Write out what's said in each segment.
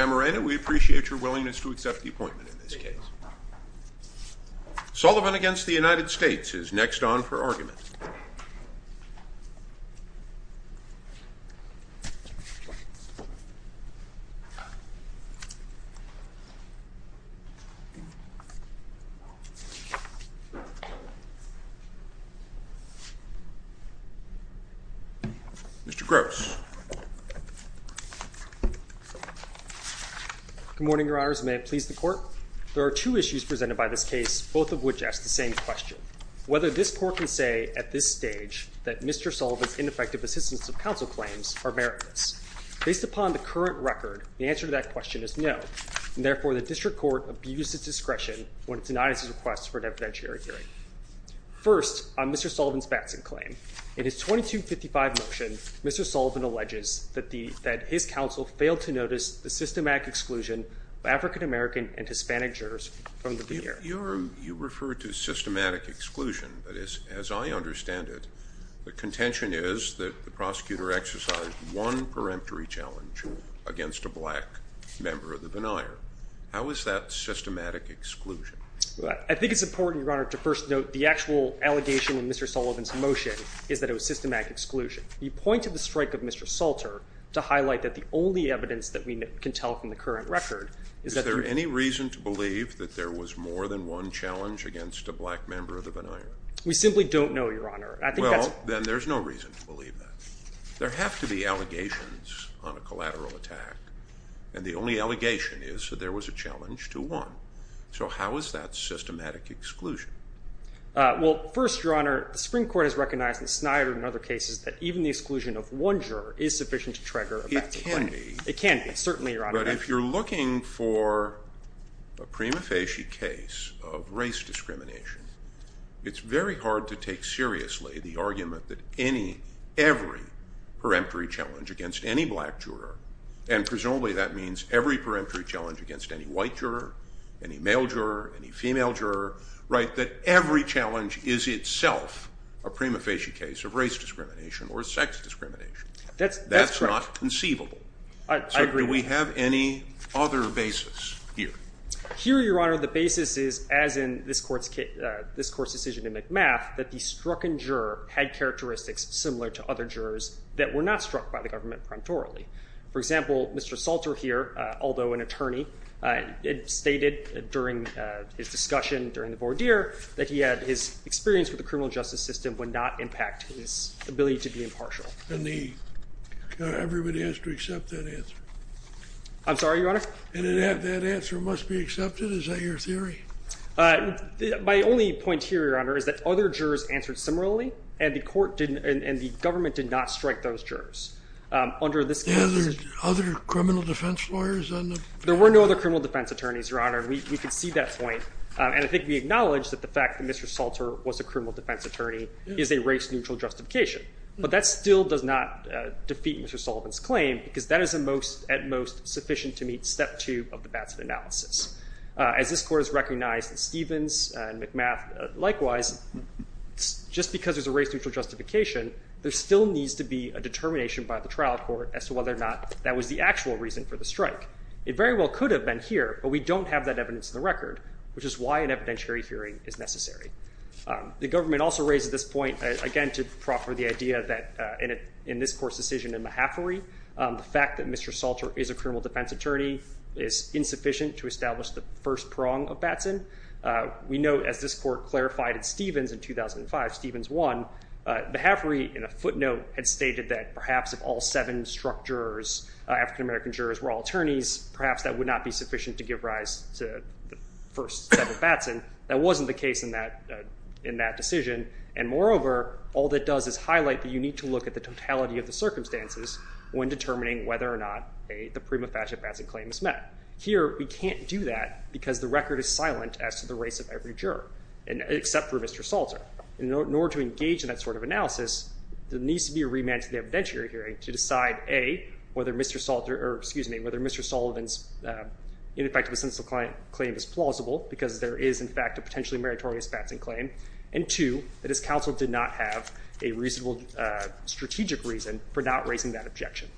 We appreciate your willingness to accept the appointment in this case. Sullivan against the United States is next on for argument. Mr. Gross. Good morning. Your Honor's may please the court. There are two issues presented by this case, both of which ask the same question. Whether this court can say at this stage that Mr. Sullivan's ineffective assistance of counsel claims are merits based upon the current record. The answer to that question is no. Therefore, the district court abuses discretion when it denies his request for an evidentiary hearing. First, I'm Mr. Sullivan's Batson claim. It is 2255 motion. Mr. Sullivan alleges that the that his counsel failed to notice the systematic exclusion of African American and Hispanic jurors. You're you refer to systematic exclusion. But as as I understand it, the contention is that the prosecutor exercise one peremptory challenge against a black member of the denier. How is that systematic exclusion? I think it's important to first note the actual allegation in Mr. Sullivan's motion is that it was systematic exclusion. He pointed the strike of Mr. Salter to highlight that the only evidence that we can tell from the current record. Is there any reason to believe that there was more than one challenge against a black member of the denier? We simply don't know, Your Honor. I think then there's no reason to believe that there have to be allegations on a collateral attack. And the only allegation is that there was a challenge to one. So how is that systematic exclusion? Well, first, Your Honor, the Supreme Court has recognized the Snyder and other cases that even the exclusion of one juror is sufficient to trigger. It can be. It can be. Certainly, Your Honor. But if you're looking for a prima facie case of race discrimination, it's very hard to take seriously the argument that any every peremptory challenge against any black juror. And presumably that means every peremptory challenge against any white juror, any male juror, any female juror, right? That every challenge is itself a prima facie case of race discrimination or sex discrimination. That's not conceivable. I agree. Do we have any other basis here? Here, Your Honor, the basis is, as in this court's decision in McMath, that the strucken juror had characteristics similar to other jurors that were not struck by the government preemptorily. For example, Mr. Salter here, although an attorney, stated during his discussion during the voir dire that he had his experience with the criminal justice system would not impact his ability to be impartial. And everybody has to accept that answer. I'm sorry, Your Honor? And that answer must be accepted? Is that your theory? My only point here, Your Honor, is that other jurors answered similarly, and the government did not strike those jurors. Are there other criminal defense lawyers? There were no other criminal defense attorneys, Your Honor. We can see that point. And I think we acknowledge that the fact that Mr. Salter was a criminal defense attorney is a race-neutral justification. But that still does not defeat Mr. Sullivan's claim, because that is at most sufficient to meet step two of the Batson analysis. As this court has recognized in Stevens and McMath likewise, just because there's a race-neutral justification, there still needs to be a determination by the trial court as to whether or not that was the actual reason for the strike. It very well could have been here, but we don't have that evidence in the record, which is why an evidentiary hearing is necessary. The government also raises this point, again, to proffer the idea that in this court's decision in Mahaffery, the fact that Mr. Salter is a criminal defense attorney is insufficient to establish the first prong of Batson. We know, as this court clarified in Stevens in 2005, Stevens won. Mahaffery, in a footnote, had stated that perhaps if all seven struck African-American jurors were all attorneys, perhaps that would not be sufficient to give rise to the first set of Batson. That wasn't the case in that decision, and moreover, all that does is highlight that you need to look at the totality of the circumstances when determining whether or not the prima facie Batson claim is met. Here, we can't do that because the record is silent as to the race of every juror, except for Mr. Salter. In order to engage in that sort of analysis, there needs to be a remand to the evidentiary hearing to decide, A, whether Mr. Salter, or excuse me, whether Mr. Sullivan's ineffective essential claim is plausible because there is, in fact, a potentially meritorious Batson claim, and two, that his counsel did not have a reasonable strategic reason for not raising that objection.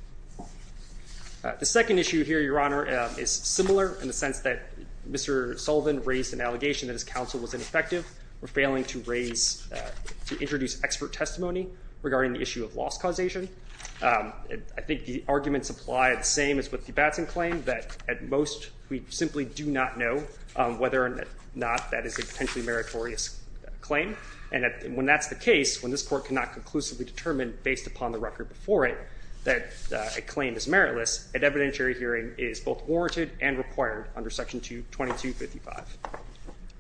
The second issue here, Your Honor, is similar in the sense that Mr. Sullivan raised an allegation that his counsel was ineffective for failing to introduce expert testimony regarding the issue of loss causation. I think the arguments apply the same as with the Batson claim, that at most, we simply do not know whether or not that is a potentially meritorious claim. And when that's the case, when this Court cannot conclusively determine, based upon the record before it, that a claim is meritless, an evidentiary hearing is both warranted and required under Section 2255.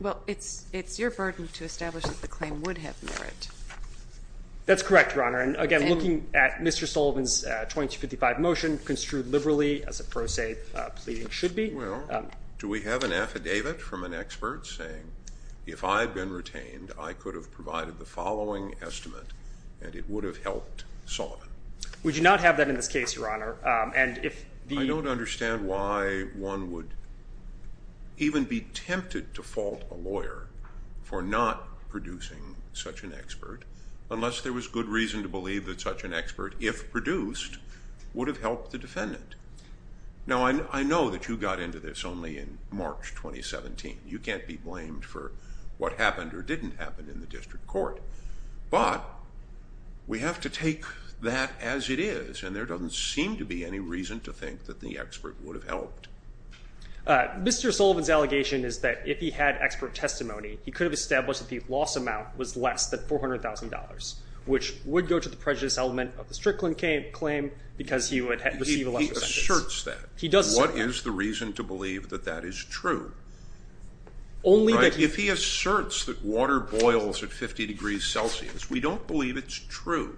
Well, it's your burden to establish that the claim would have merit. That's correct, Your Honor. And again, looking at Mr. Sullivan's 2255 motion, construed liberally as a pro se pleading should be. Well, do we have an affidavit from an expert saying, if I had been retained, I could have provided the following estimate and it would have helped Sullivan? We do not have that in this case, Your Honor. I don't understand why one would even be tempted to fault a lawyer for not producing such an expert unless there was good reason to believe that such an expert, if produced, would have helped the defendant. Now, I know that you got into this only in March 2017. You can't be blamed for what happened or didn't happen in the District Court. But we have to take that as it is, and there doesn't seem to be any reason to think that the expert would have helped. Mr. Sullivan's allegation is that if he had expert testimony, he could have established that the loss amount was less than $400,000, which would go to the prejudice element of the Strickland claim because he would receive a lesser sentence. If he asserts that, what is the reason to believe that that is true? If he asserts that water boils at 50 degrees Celsius, we don't believe it's true.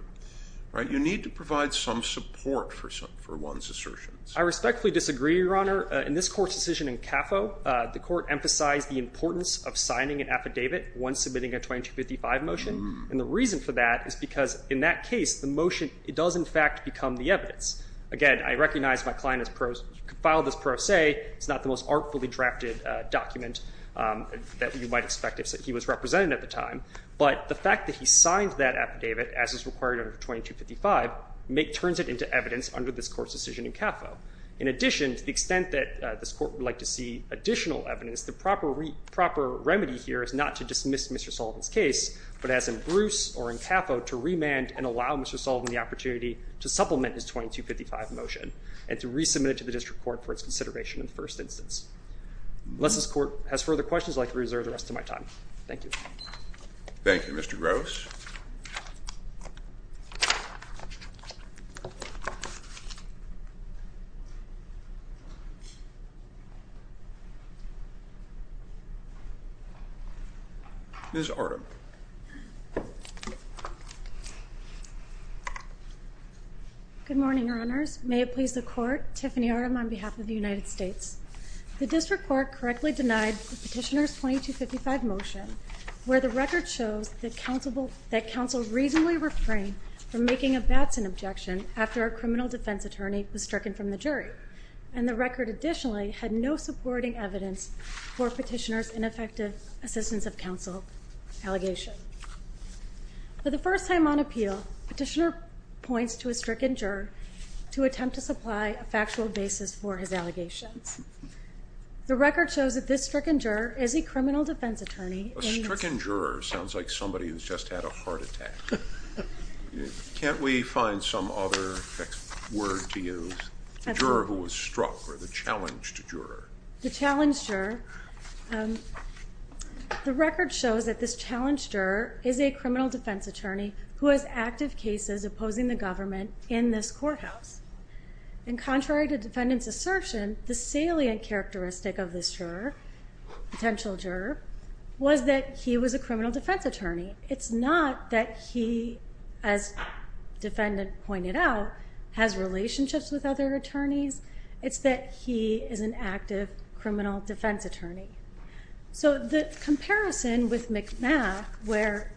You need to provide some support for one's assertions. I respectfully disagree, Your Honor. In this Court's decision in CAFO, the Court emphasized the importance of signing an affidavit once submitting a 2255 motion. And the reason for that is because in that case, the motion does in fact become the evidence. Again, I recognize my client has filed this pro se. It's not the most artfully drafted document that you might expect if he was represented at the time. But the fact that he signed that affidavit, as is required under 2255, turns it into evidence under this Court's decision in CAFO. In addition, to the extent that this Court would like to see additional evidence, the proper remedy here is not to dismiss Mr. Sullivan's case, but as in Bruce or in CAFO, to remand and allow Mr. Sullivan the opportunity to supplement his 2255 motion and to resubmit it to the District Court for its consideration in the first instance. Unless this Court has further questions, I'd like to reserve the rest of my time. Thank you. Thank you, Mr. Gross. Ms. Artem. Good morning, Your Honors. May it please the Court, Tiffany Artem on behalf of the United States. The District Court correctly denied the petitioner's 2255 motion, where the record shows that counsel reasonably refrained from making a Batson objection after a criminal defense attorney was stricken from the jury. And the record additionally had no supporting evidence for petitioner's ineffective assistance of counsel allegation. For the first time on appeal, petitioner points to a stricken juror to attempt to supply a factual basis for his allegations. The record shows that this stricken juror is a criminal defense attorney. A stricken juror sounds like somebody who's just had a heart attack. Can't we find some other word to use? A juror who was struck or the challenged juror. The challenged juror. The record shows that this challenged juror is a criminal defense attorney who has active cases opposing the government in this courthouse. And contrary to defendant's assertion, the salient characteristic of this juror, potential juror, was that he was a criminal defense attorney. It's not that he, as defendant pointed out, has relationships with other attorneys. It's that he is an active criminal defense attorney. So the comparison with McMath, where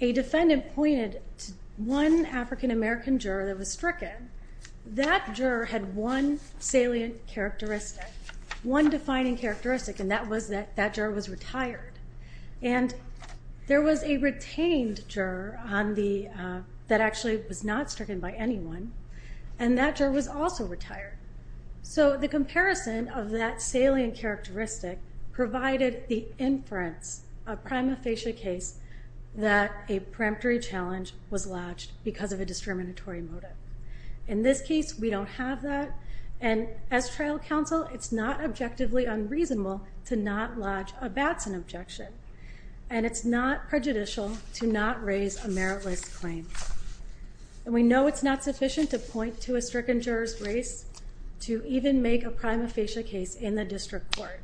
a defendant pointed to one African-American juror that was stricken, that juror had one salient characteristic, one defining characteristic, and that was that that juror was retired. And there was a retained juror that actually was not stricken by anyone, and that juror was also retired. So the comparison of that salient characteristic provided the inference, a prima facie case, that a preemptory challenge was lodged because of a discriminatory motive. In this case, we don't have that. And as trial counsel, it's not objectively unreasonable to not lodge a Batson objection. And it's not prejudicial to not raise a meritless claim. And we know it's not sufficient to point to a stricken juror's race to even make a prima facie case in the district court.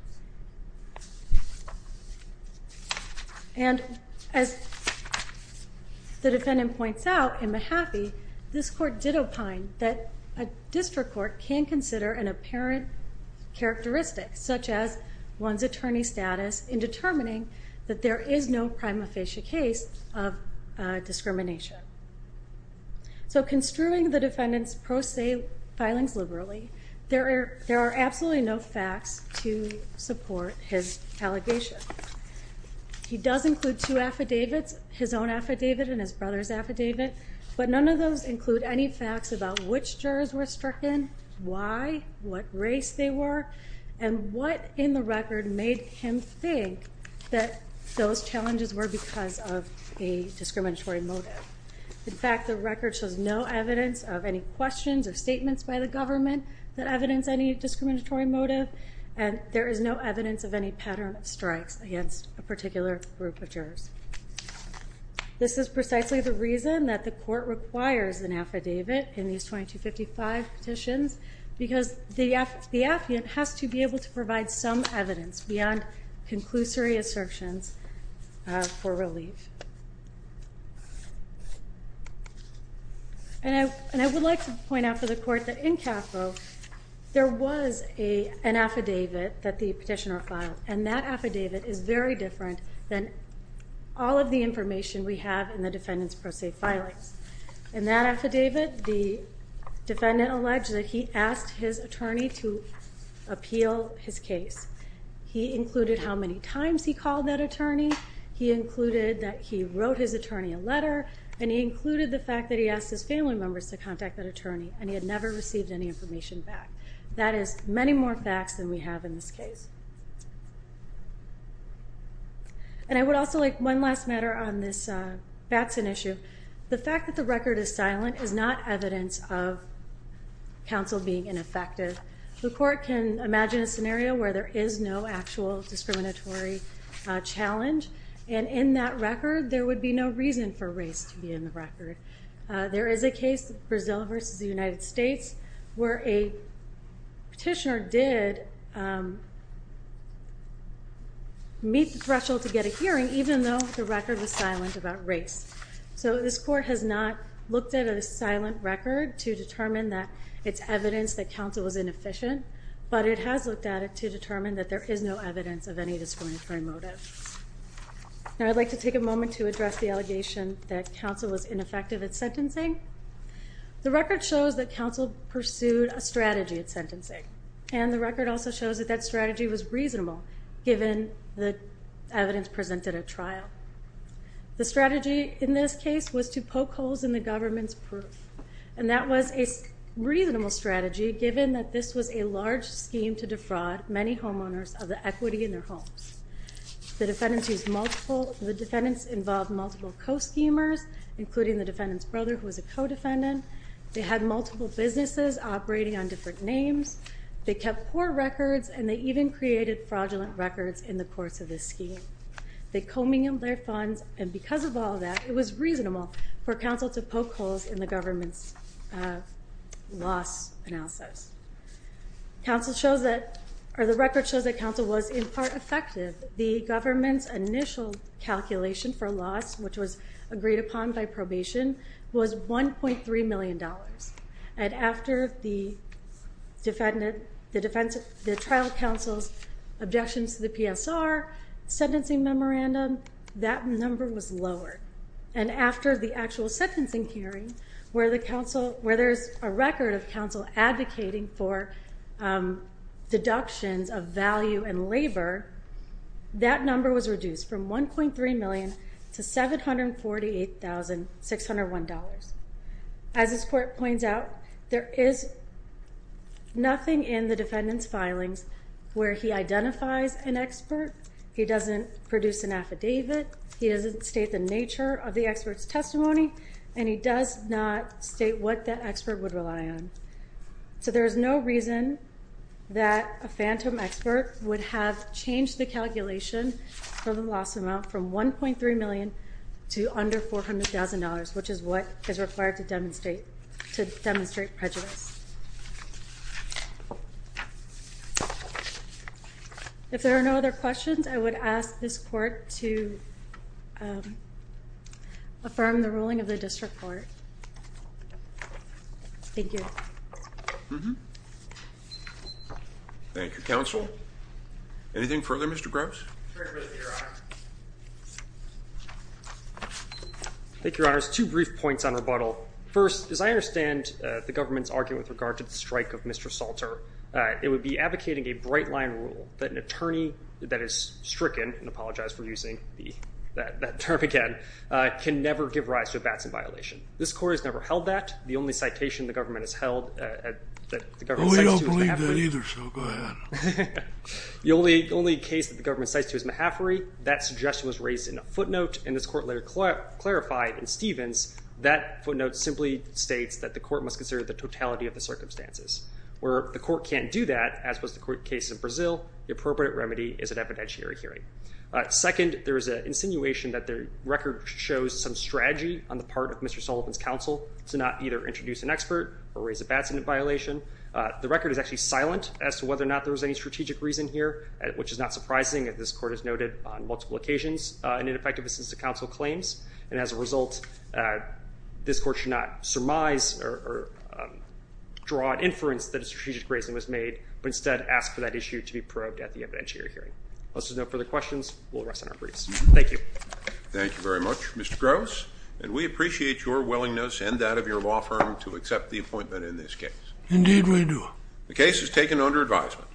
And as the defendant points out in Mahaffey, this court did opine that a district court can consider an apparent characteristic, such as one's attorney status, in determining that there is no prima facie case of discrimination. So construing the defendant's pro se filings liberally, there are absolutely no facts to support his allegation. He does include two affidavits, his own affidavit and his brother's affidavit, but none of those include any facts about which jurors were stricken, why, what race they were, and what in the record made him think that those challenges were because of a discriminatory motive. In fact, the record shows no evidence of any questions or statements by the government that evidence any discriminatory motive. And there is no evidence of any pattern of strikes against a particular group of jurors. This is precisely the reason that the court requires an affidavit in these 2255 petitions, because the affidavit has to be able to provide some evidence beyond conclusory assertions for relief. And I would like to point out for the court that in CAFO, there was an affidavit that the petitioner filed, and that affidavit is very different than all of the information we have in the defendant's pro se filings. In that affidavit, the defendant alleged that he asked his attorney to appeal his case. He included how many times he called that attorney, he included that he wrote his attorney a letter, and he included the fact that he asked his family members to contact that attorney, and he had never received any information back. That is many more facts than we have in this case. And I would also like one last matter on this Batson issue. The fact that the record is silent is not evidence of counsel being ineffective. The court can imagine a scenario where there is no actual discriminatory challenge, and in that record, there would be no reason for race to be in the record. There is a case, Brazil versus the United States, where a petitioner did meet the threshold to get a hearing, even though the record was silent about race. So this court has not looked at a silent record to determine that it's evidence that counsel was inefficient, but it has looked at it to determine that there is no evidence of any discriminatory motive. Now I'd like to take a moment to address the allegation that counsel was ineffective at sentencing. The record shows that counsel pursued a strategy at sentencing, and the record also shows that that strategy was reasonable given the evidence presented at trial. The strategy in this case was to poke holes in the government's proof, and that was a reasonable strategy given that this was a large scheme to defraud many homeowners of the equity in their homes. The defendants involved multiple co-schemers, including the defendant's brother, who was a co-defendant. They had multiple businesses operating on different names. They kept poor records, and they even created fraudulent records in the course of this scheme. They commingled their funds, and because of all that, it was reasonable for counsel to poke holes in the government's loss analysis. The record shows that counsel was in part effective. The government's initial calculation for loss, which was agreed upon by probation, was $1.3 million. And after the trial counsel's objections to the PSR sentencing memorandum, that number was lowered. And after the actual sentencing hearing, where there's a record of counsel advocating for deductions of value and labor, that number was reduced from $1.3 million to $748,601. As this court points out, there is nothing in the defendant's filings where he identifies an expert, he doesn't produce an affidavit, he doesn't state the nature of the expert's testimony, and he does not state what that expert would rely on. So there is no reason that a phantom expert would have changed the calculation for the loss amount from $1.3 million to under $400,000, which is what is required to demonstrate prejudice. If there are no other questions, I would ask this court to affirm the ruling of the district court. Thank you. Thank you, counsel. Anything further, Mr. Gross? Thank you, Your Honor. Two brief points on rebuttal. First, as I understand the government's argument with regard to the strike of Mr. Salter, it would be advocating a bright-line rule that an attorney that is stricken, and I apologize for using that term again, can never give rise to a batson violation. This court has never held that. The only citation the government has held that the government cites to is Mahaffrey. We don't believe that either, so go ahead. The only case that the government cites to is Mahaffrey. That suggestion was raised in a footnote, and this court later clarified in Stevens that footnote simply states that the court must consider the totality of the circumstances. Where the court can't do that, as was the case in Brazil, the appropriate remedy is an evidentiary hearing. Second, there is an insinuation that the record shows some strategy on the part of Mr. Sullivan's counsel to not either introduce an expert or raise a batson violation. The record is actually silent as to whether or not there was any strategic reason here, which is not surprising, as this court has noted on multiple occasions, an ineffective assistance to counsel claims, and as a result, this court should not surmise or draw an inference that a strategic reason was made, but instead ask for that issue to be probed at the evidentiary hearing. Unless there's no further questions, we'll rest on our briefs. Thank you. Thank you very much, Mr. Gross. And we appreciate your willingness and that of your law firm to accept the appointment in this case. Indeed we do. The case is taken under advisement.